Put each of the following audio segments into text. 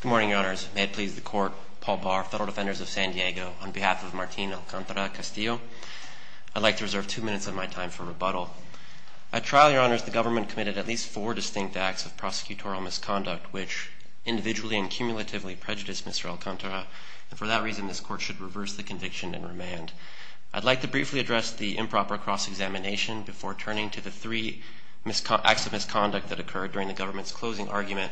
Good morning, Your Honors. May it please the Court, Paul Barr, Federal Defenders of San Diego, on behalf of Martin Alcantara-Castillo, I'd like to reserve two minutes of my time for rebuttal. At trial, Your Honors, the government committed at least four distinct acts of prosecutorial misconduct which individually and cumulatively prejudiced Mr. Alcantara, and for that reason this Court should reverse the conviction and remand. I'd like to briefly address the improper cross-examination before turning to the three acts of misconduct that occurred during the government's closing argument.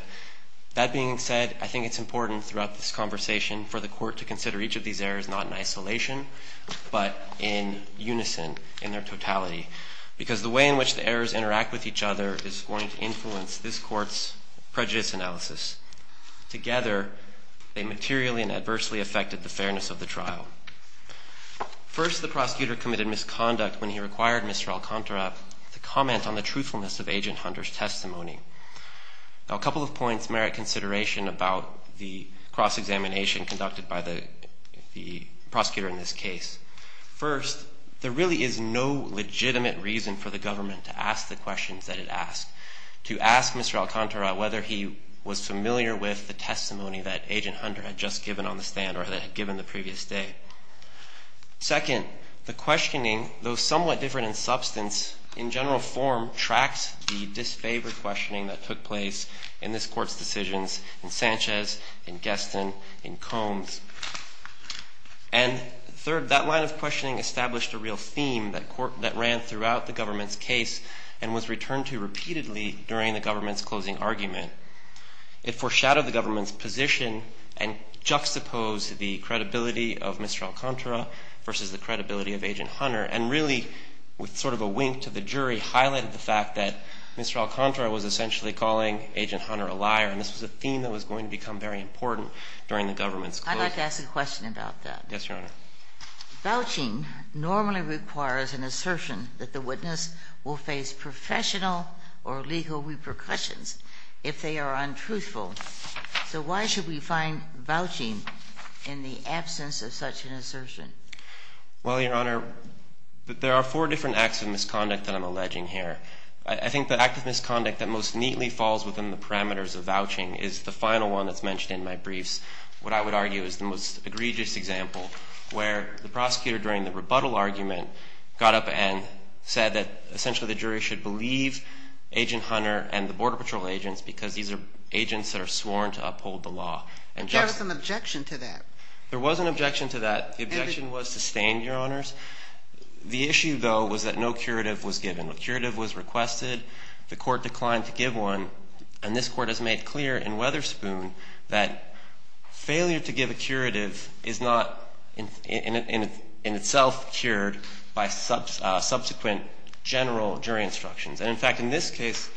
That being said, I think it's important throughout this conversation for the Court to consider each of these errors not in isolation, but in unison, in their totality. Because the way in which the errors interact with each other is going to influence this Court's prejudice analysis. Together, they materially and adversely affected the fairness of the trial. First, the prosecutor committed misconduct when he required Mr. Alcantara to comment on the truthfulness of Agent Hunter's testimony. Now a couple of points merit consideration about the cross-examination conducted by the prosecutor in this case. First, there really is no legitimate reason for the government to ask the questions that it asked. To ask Mr. Alcantara whether he was familiar with the testimony that Agent Hunter had just given on the stand or had given the previous day. Second, the questioning, though somewhat different in substance, in general form tracks the disfavored questioning that took place in this Court's decisions in Sanchez, in Guestin, in Combs. And third, that line of questioning established a real theme that ran throughout the government's case and was returned to repeatedly during the government's closing argument. It foreshadowed the government's position and juxtaposed the credibility of Mr. Alcantara versus the credibility of Agent Hunter. And really, with sort of a wink to the jury, highlighted the fact that Mr. Alcantara was essentially calling Agent Hunter a liar. And this was a theme that was going to become very important during the government's closing argument. I'd like to ask a question about that. Yes, Your Honor. Vouching normally requires an assertion that the witness will face professional or legal repercussions if they are untruthful. So why should we find vouching in the absence of such an assertion? Well, Your Honor, there are four different acts of misconduct that I'm alleging here. I think the act of misconduct that most neatly falls within the parameters of vouching is the final one that's mentioned in my briefs. What I would argue is the most egregious example where the prosecutor, during the rebuttal argument, got up and said that essentially the jury should believe Agent Hunter and the Border Patrol agents because these are agents that are sworn to uphold the law. There was an objection to that. There was an objection to that. The objection was sustained, Your Honors. The issue, though, was that no curative was given. A curative was requested. The court declined to give one. And this court has made clear in Weatherspoon that failure to give a curative is not in itself cured by subsequent general jury instructions. And, in fact, in this case,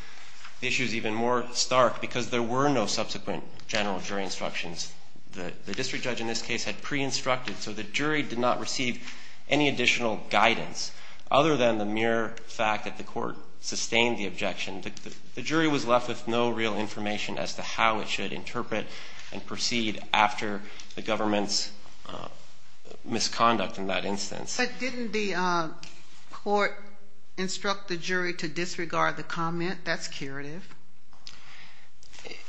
the issue is even more stark because there were no subsequent general jury instructions. The district judge in this case had pre-instructed so the jury did not receive any additional guidance other than the mere fact that the court sustained the objection. The jury was left with no real information as to how it should interpret and proceed after the government's misconduct in that instance. But didn't the court instruct the jury to disregard the comment? That's curative.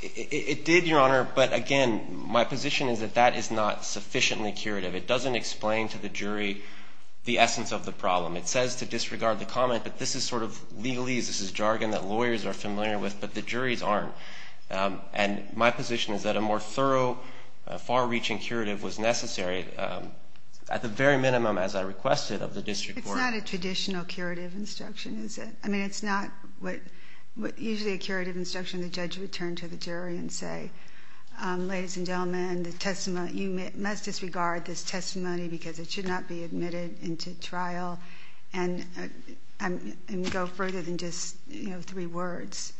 It did, Your Honor. But, again, my position is that that is not sufficiently curative. It doesn't explain to the jury the essence of the problem. It says to disregard the comment, but this is sort of legalese. This is jargon that lawyers are familiar with, but the juries aren't. And my position is that a more thorough, far-reaching curative was necessary, at the very minimum, as I requested, of the district court. It's not a traditional curative instruction, is it? I mean, it's not usually a curative instruction. Ladies and gentlemen, you must disregard this testimony because it should not be admitted into trial and go further than just three words.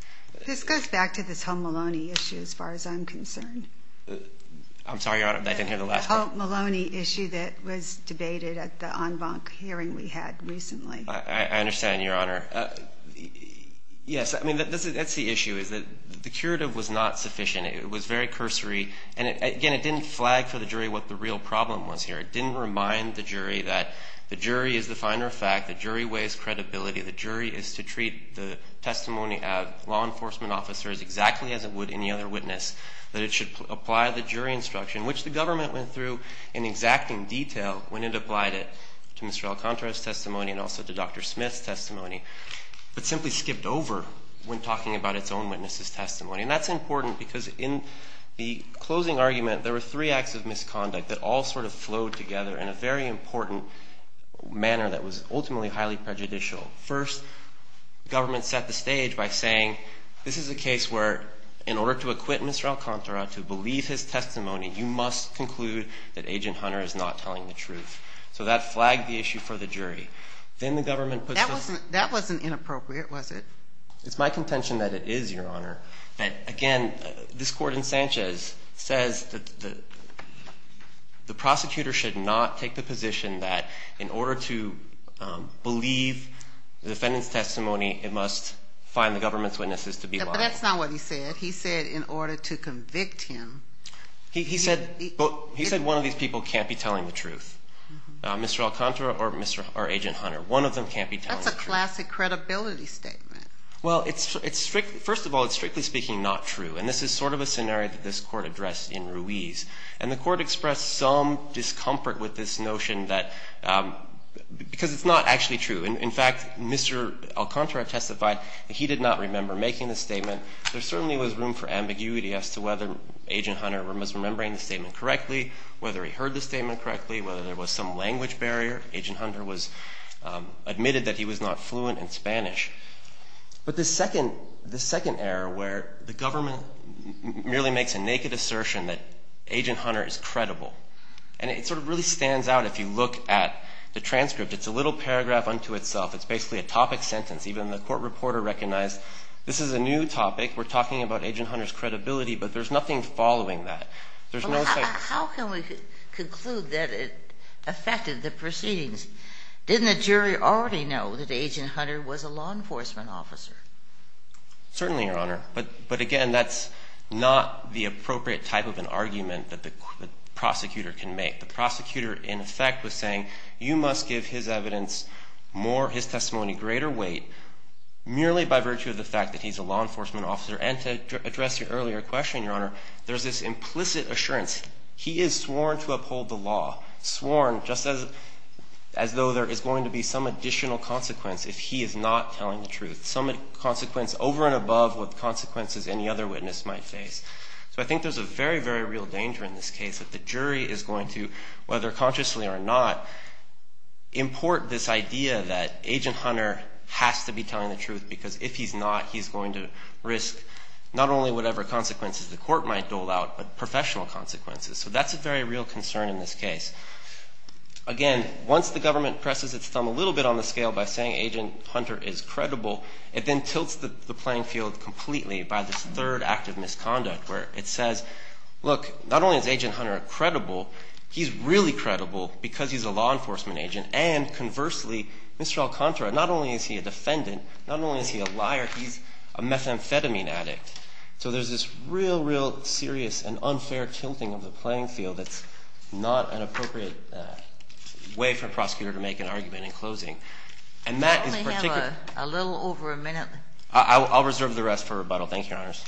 This goes back to this whole Maloney issue, as far as I'm concerned. I'm sorry, Your Honor, I didn't hear the last part. The whole Maloney issue that was debated at the en banc hearing we had recently. I understand, Your Honor. Yes, I mean, that's the issue, is that the curative was not sufficient. It was very cursory, and, again, it didn't flag for the jury what the real problem was here. It didn't remind the jury that the jury is the finder of fact, the jury weighs credibility, the jury is to treat the testimony of law enforcement officers exactly as it would any other witness, that it should apply the jury instruction, which the government went through in exacting detail when it applied it to Mr. Alcantara's testimony and also to Dr. Smith's testimony, but simply skipped over when talking about its own witness's testimony. And that's important because in the closing argument, there were three acts of misconduct that all sort of flowed together in a very important manner that was ultimately highly prejudicial. First, government set the stage by saying this is a case where, in order to acquit Mr. Alcantara to believe his testimony, you must conclude that Agent Hunter is not telling the truth. So that flagged the issue for the jury. Then the government puts the... That wasn't inappropriate, was it? It's my contention that it is, Your Honor. But, again, this court in Sanchez says that the prosecutor should not take the position that, in order to believe the defendant's testimony, it must find the government's witnesses to be lying. But that's not what he said. He said in order to convict him. He said one of these people can't be telling the truth, Mr. Alcantara or Agent Hunter. One of them can't be telling the truth. That's a classic credibility statement. Well, first of all, it's, strictly speaking, not true. And this is sort of a scenario that this court addressed in Ruiz. And the court expressed some discomfort with this notion because it's not actually true. In fact, Mr. Alcantara testified that he did not remember making the statement. There certainly was room for ambiguity as to whether Agent Hunter was remembering the statement correctly, whether he heard the statement correctly, whether there was some language barrier. Agent Hunter admitted that he was not fluent in Spanish. But this second error where the government merely makes a naked assertion that Agent Hunter is credible. And it sort of really stands out if you look at the transcript. It's a little paragraph unto itself. It's basically a topic sentence. Even the court reporter recognized this is a new topic. We're talking about Agent Hunter's credibility. But there's nothing following that. There's no sense. How can we conclude that it affected the proceedings? Didn't the jury already know that Agent Hunter was a law enforcement officer? Certainly, Your Honor. But, again, that's not the appropriate type of an argument that the prosecutor can make. The prosecutor, in effect, was saying you must give his evidence more, his testimony greater weight merely by virtue of the fact that he's a law enforcement officer. And to address your earlier question, Your Honor, there's this implicit assurance. He is sworn to uphold the law, sworn just as though there is going to be some additional consequence if he is not telling the truth. Some consequence over and above what consequences any other witness might face. So I think there's a very, very real danger in this case that the jury is going to, whether consciously or not, import this idea that Agent Hunter has to be telling the truth because if he's not, he's going to risk not only whatever consequences the court might dole out but professional consequences. So that's a very real concern in this case. Again, once the government presses its thumb a little bit on the scale by saying Agent Hunter is credible, it then tilts the playing field completely by this third act of misconduct where it says, look, not only is Agent Hunter credible, he's really credible because he's a law enforcement agent and, conversely, Mr. Alcantara, not only is he a defendant, not only is he a liar, he's a methamphetamine addict. So there's this real, real serious and unfair tilting of the playing field that's not an appropriate way for a prosecutor to make an argument in closing. And that is particularly... We only have a little over a minute. I'll reserve the rest for rebuttal. Thank you, Your Honors.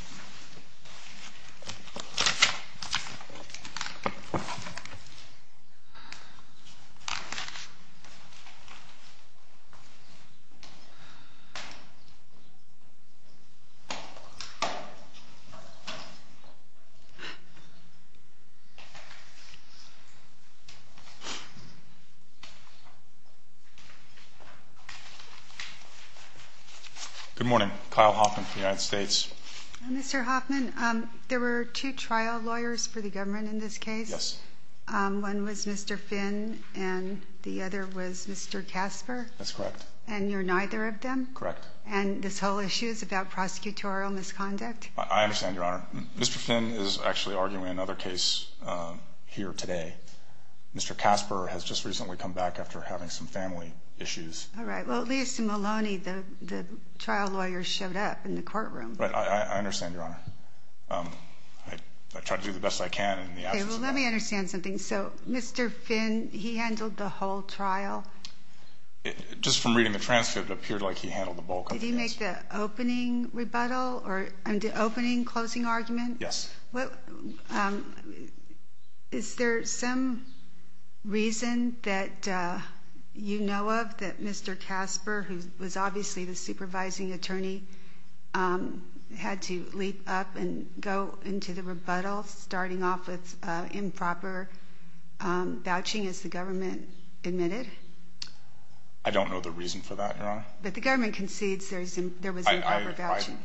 Good morning. Kyle Hoffman from the United States. Mr. Hoffman, there were two trial lawyers for the government in this case. Yes. One was Mr. Finn and the other was Mr. Casper. That's correct. And you're neither of them? Correct. And this whole issue is about prosecutorial misconduct? I understand, Your Honor. Mr. Finn is actually arguing another case here today. Mr. Casper has just recently come back after having some family issues. All right. Well, at least Maloney, the trial lawyer, showed up in the courtroom. I understand, Your Honor. I try to do the best I can in the absence of that. Okay, well, let me understand something. So Mr. Finn, he handled the whole trial? Just from reading the transcript, it appeared like he handled the bulk of the case. Did he make the opening rebuttal or the opening closing argument? Yes. Is there some reason that you know of that Mr. Casper, who was obviously the supervising attorney, had to leap up and go into the rebuttal, starting off with improper vouching, as the government admitted? I don't know the reason for that, Your Honor. I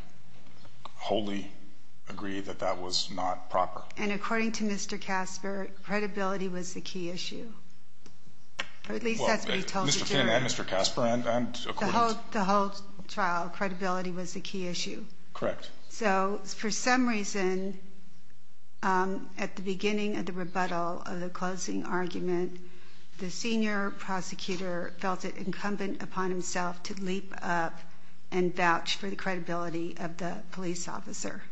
wholly agree that that was not proper. And according to Mr. Casper, credibility was the key issue. Or at least that's what he told the jury. Mr. Finn and Mr. Casper, and according to— The whole trial, credibility was the key issue. Correct. So for some reason, at the beginning of the rebuttal of the closing argument, the senior prosecutor felt it incumbent upon himself to leap up and vouch for the credibility of the police officer.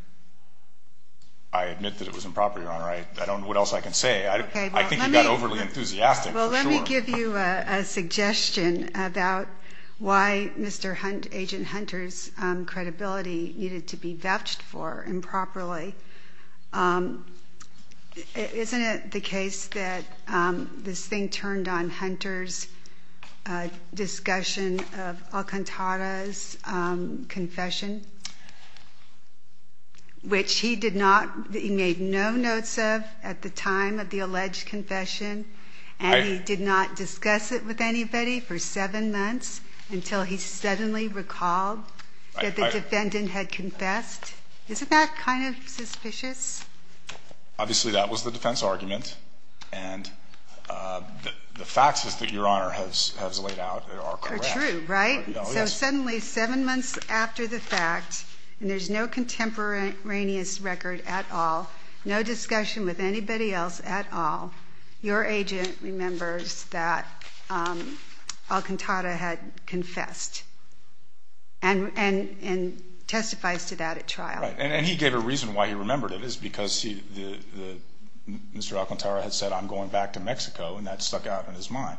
I admit that it was improper, Your Honor. I don't know what else I can say. I think he got overly enthusiastic, for sure. Well, let me give you a suggestion about why Mr. Hunt, Agent Hunter's credibility needed to be vouched for improperly. Isn't it the case that this thing turned on Hunter's discussion of Alcantara's confession, which he did not—he made no notes of at the time of the alleged confession, and he did not discuss it with anybody for seven months until he suddenly recalled that the defendant had confessed? Isn't that kind of suspicious? Obviously, that was the defense argument, and the facts that Your Honor has laid out are correct. They're true, right? Yes. So suddenly, seven months after the fact, and there's no contemporaneous record at all, no discussion with anybody else at all, your agent remembers that Alcantara had confessed and testifies to that at trial. Right, and he gave a reason why he remembered it. It's because Mr. Alcantara had said, I'm going back to Mexico, and that stuck out in his mind.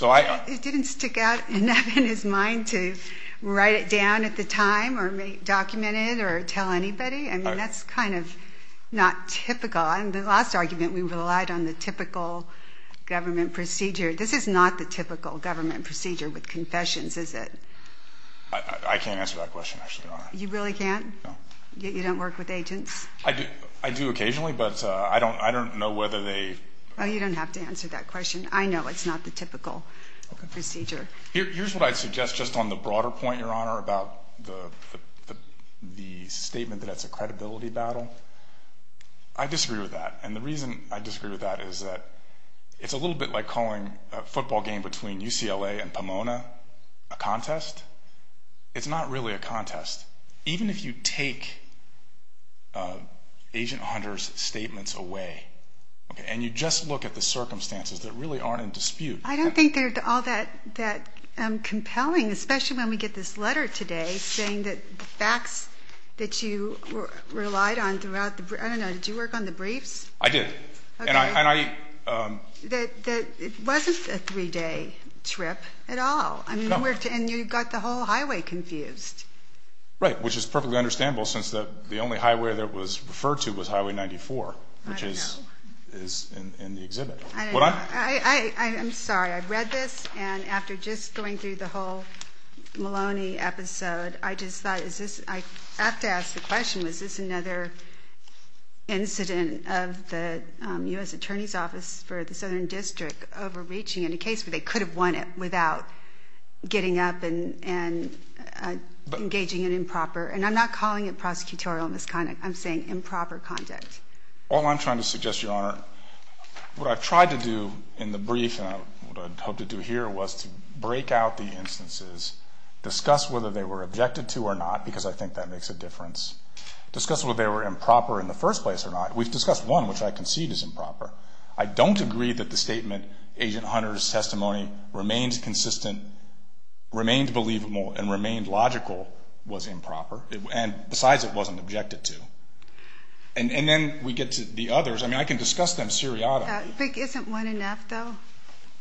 It didn't stick out enough in his mind to write it down at the time or document it or tell anybody? I mean, that's kind of not typical. In the last argument, we relied on the typical government procedure. This is not the typical government procedure with confessions, is it? I can't answer that question, actually, Your Honor. You really can't? No. You don't work with agents? I do occasionally, but I don't know whether they ---- Oh, you don't have to answer that question. I know it's not the typical procedure. Here's what I'd suggest just on the broader point, Your Honor, about the statement that it's a credibility battle. I disagree with that, and the reason I disagree with that is that it's a little bit like calling a football game between UCLA and Pomona a contest. It's not really a contest. Even if you take Agent Hunter's statements away and you just look at the circumstances that really aren't in dispute. I don't think they're all that compelling, especially when we get this letter today saying that the facts that you relied on throughout the ---- I don't know. Did you work on the briefs? I did. Okay. And I ---- It wasn't a three-day trip at all. No. And you got the whole highway confused. Right, which is perfectly understandable since the only highway that was referred to was Highway 94, which is in the exhibit. I don't know. I'm sorry. I read this, and after just going through the whole Maloney episode, I just thought is this ---- I have to ask the question, was this another incident of the U.S. Attorney's Office for the Southern District overreaching in a case where they could have won it without getting up and engaging in improper, and I'm not calling it prosecutorial misconduct. I'm saying improper conduct. All I'm trying to suggest, Your Honor, what I've tried to do in the brief and what I'd hoped to do here was to break out the instances, discuss whether they were objected to or not, because I think that makes a difference, discuss whether they were improper in the first place or not. We've discussed one, which I concede is improper. I don't agree that the statement, Agent Hunter's testimony remains consistent, remains believable, and remains logical was improper, and besides it wasn't objected to. And then we get to the others. I mean, I can discuss them seriatim. Isn't one enough, though?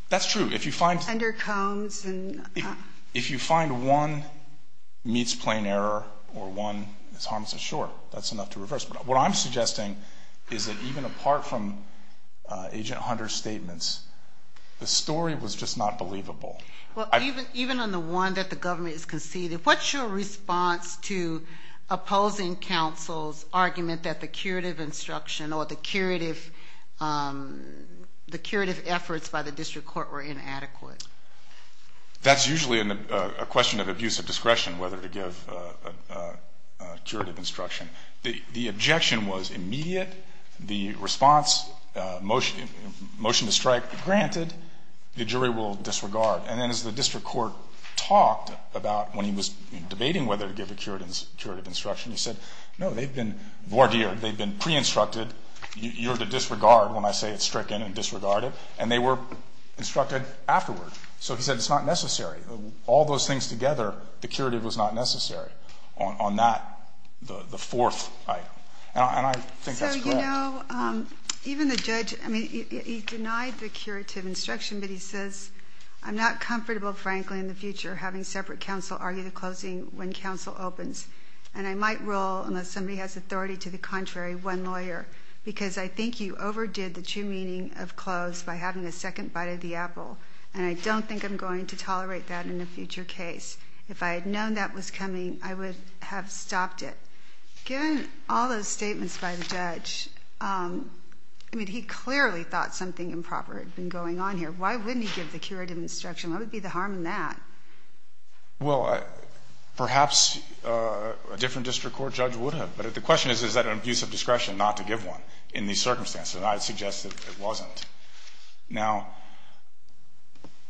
That's true. If you find ---- If you find one meets plain error or one is harmless, sure, that's enough to reverse. But what I'm suggesting is that even apart from Agent Hunter's statements, the story was just not believable. Even on the one that the government has conceded, what's your response to opposing counsel's argument that the curative instruction or the curative efforts by the district court were inadequate? That's usually a question of abuse of discretion, whether to give curative instruction. The objection was immediate. The response, motion to strike, granted. The jury will disregard. And then as the district court talked about when he was debating whether to give a curative instruction, he said, no, they've been voir dire, they've been pre-instructed. You're to disregard when I say it's stricken and disregarded. And they were instructed afterwards. So he said it's not necessary. All those things together, the curative was not necessary on that, the fourth item. And I think that's correct. So, you know, even the judge, I mean, he denied the curative instruction, but he says, I'm not comfortable, frankly, in the future having separate counsel argue the closing when counsel opens. And I might rule, unless somebody has authority to the contrary, one lawyer, because I think you overdid the true meaning of close by having a second bite of the apple. And I don't think I'm going to tolerate that in a future case. If I had known that was coming, I would have stopped it. Given all those statements by the judge, I mean, he clearly thought something improper had been going on here. Why wouldn't he give the curative instruction? What would be the harm in that? Well, perhaps a different district court judge would have. But the question is, is that an abuse of discretion not to give one in these circumstances? And I would suggest that it wasn't. Now,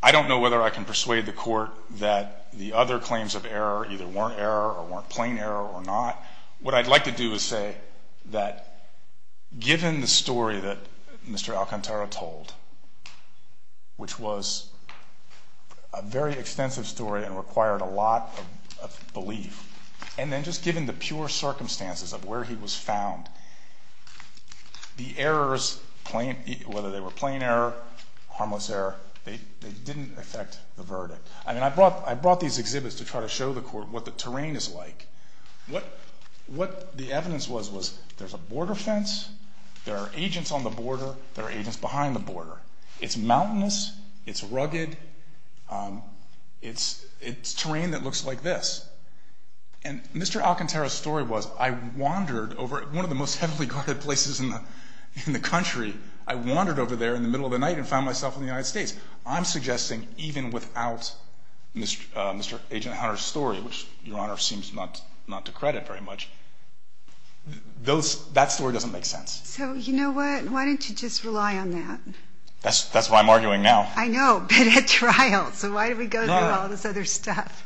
I don't know whether I can persuade the court that the other claims of error either weren't error or weren't plain error or not. What I'd like to do is say that given the story that Mr. Alcantara told, which was a very extensive story and required a lot of belief, and then just given the pure circumstances of where he was found, the errors, whether they were plain error, harmless error, they didn't affect the verdict. I mean, I brought these exhibits to try to show the court what the terrain is like. What the evidence was, was there's a border fence, there are agents on the border, there are agents behind the border. It's mountainous, it's rugged, it's terrain that looks like this. And Mr. Alcantara's story was I wandered over one of the most heavily guarded places in the country. I wandered over there in the middle of the night and found myself in the United States. I'm suggesting even without Mr. Agent Hunter's story, which Your Honor seems not to credit very much, that story doesn't make sense. So you know what? Why don't you just rely on that? That's what I'm arguing now. I know, but at trial. So why do we go through all this other stuff?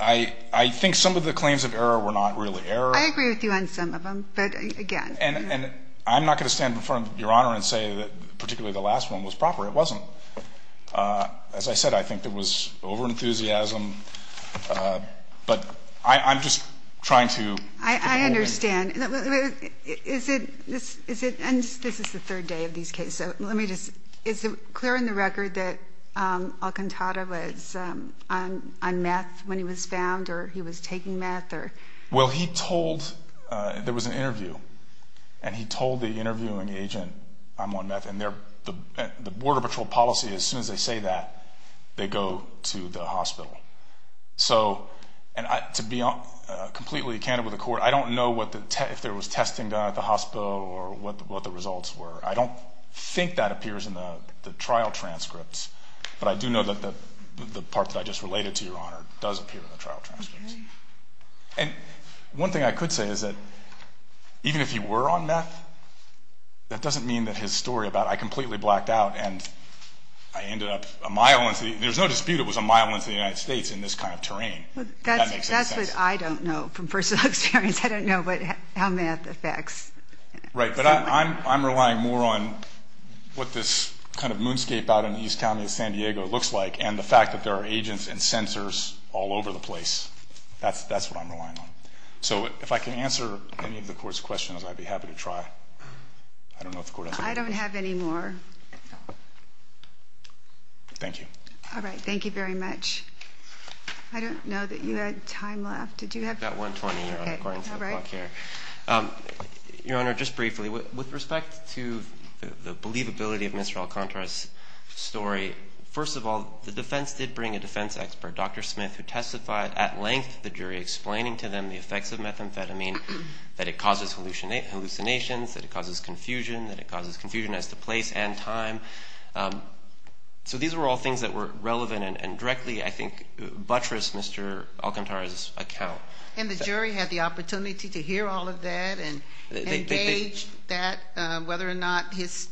I think some of the claims of error were not really error. I agree with you on some of them, but again. And I'm not going to stand in front of Your Honor and say that particularly the last one was proper. It wasn't. As I said, I think there was overenthusiasm. But I'm just trying to. I understand. Is it, and this is the third day of these cases. Is it clear in the record that Alcantara was on meth when he was found or he was taking meth? Well, he told, there was an interview, and he told the interviewing agent, I'm on meth. And the border patrol policy, as soon as they say that, they go to the hospital. So to be completely candid with the court, I don't know if there was testing done at the hospital or what the results were. I don't think that appears in the trial transcripts. But I do know that the part that I just related to, Your Honor, does appear in the trial transcripts. And one thing I could say is that even if he were on meth, that doesn't mean that his story about I completely blacked out and I ended up a mile into the, there's no dispute it was a mile into the United States in this kind of terrain. That's what I don't know from personal experience. I don't know how meth affects someone. Right, but I'm relying more on what this kind of moonscape out in East County of San Diego looks like and the fact that there are agents and censors all over the place. That's what I'm relying on. So if I can answer any of the court's questions, I'd be happy to try. I don't know if the court has any questions. I don't have any more. Thank you. All right. Thank you very much. I don't know that you had time left. Did you have time? We've got 1.20 here according to the clock here. Your Honor, just briefly, with respect to the believability of Mr. Alcantara's story, first of all, the defense did bring a defense expert, Dr. Smith, who testified at length to the jury explaining to them the effects of methamphetamine, that it causes hallucinations, that it causes confusion, that it causes confusion as to place and time. So these were all things that were relevant and directly I think buttressed Mr. Alcantara's account. And the jury had the opportunity to hear all of that and gauge that whether or not his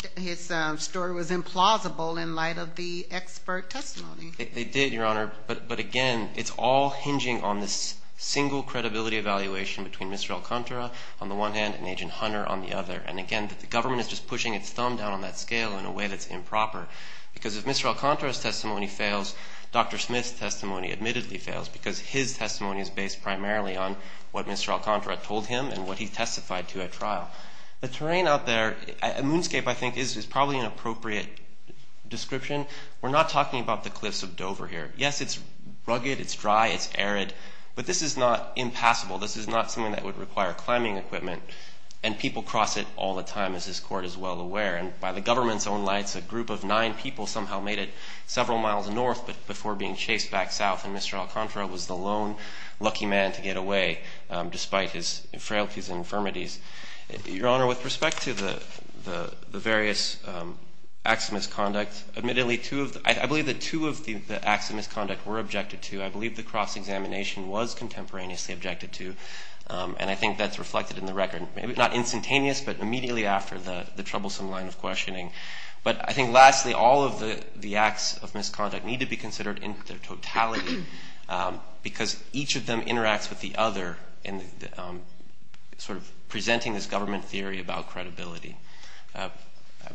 story was implausible in light of the expert testimony. They did, Your Honor. But again, it's all hinging on this single credibility evaluation between Mr. Alcantara on the one hand and Agent Hunter on the other. And again, the government is just pushing its thumb down on that scale in a way that's improper because if Mr. Alcantara's testimony fails, Dr. Smith's testimony admittedly fails because his testimony is based primarily on what Mr. Alcantara told him and what he testified to at trial. The terrain out there, moonscape I think is probably an appropriate description. We're not talking about the cliffs of Dover here. Yes, it's rugged, it's dry, it's arid, but this is not impassable. This is not something that would require climbing equipment. And people cross it all the time, as this Court is well aware. And by the government's own lights, a group of nine people somehow made it several miles north before being chased back south. And Mr. Alcantara was the lone lucky man to get away despite his frailties and infirmities. Your Honor, with respect to the various acts of misconduct, admittedly I believe that two of the acts of misconduct were objected to. I believe the cross-examination was contemporaneously objected to. And I think that's reflected in the record. Maybe not instantaneous, but immediately after the troublesome line of questioning. But I think lastly, all of the acts of misconduct need to be considered in their totality because each of them interacts with the other in sort of presenting this government theory about credibility. I'm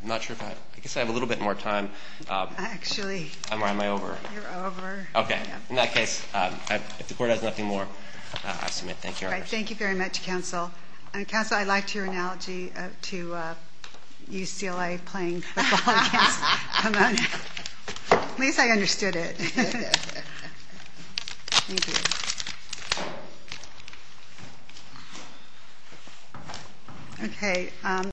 not sure if I have, I guess I have a little bit more time. Actually. Am I over? You're over. Okay. In that case, if the Court has nothing more, I submit. Thank you, Your Honor. All right. Thank you very much, Counsel. Counsel, I liked your analogy to UCLA playing football against Pomona. At least I understood it. Thank you. Okay.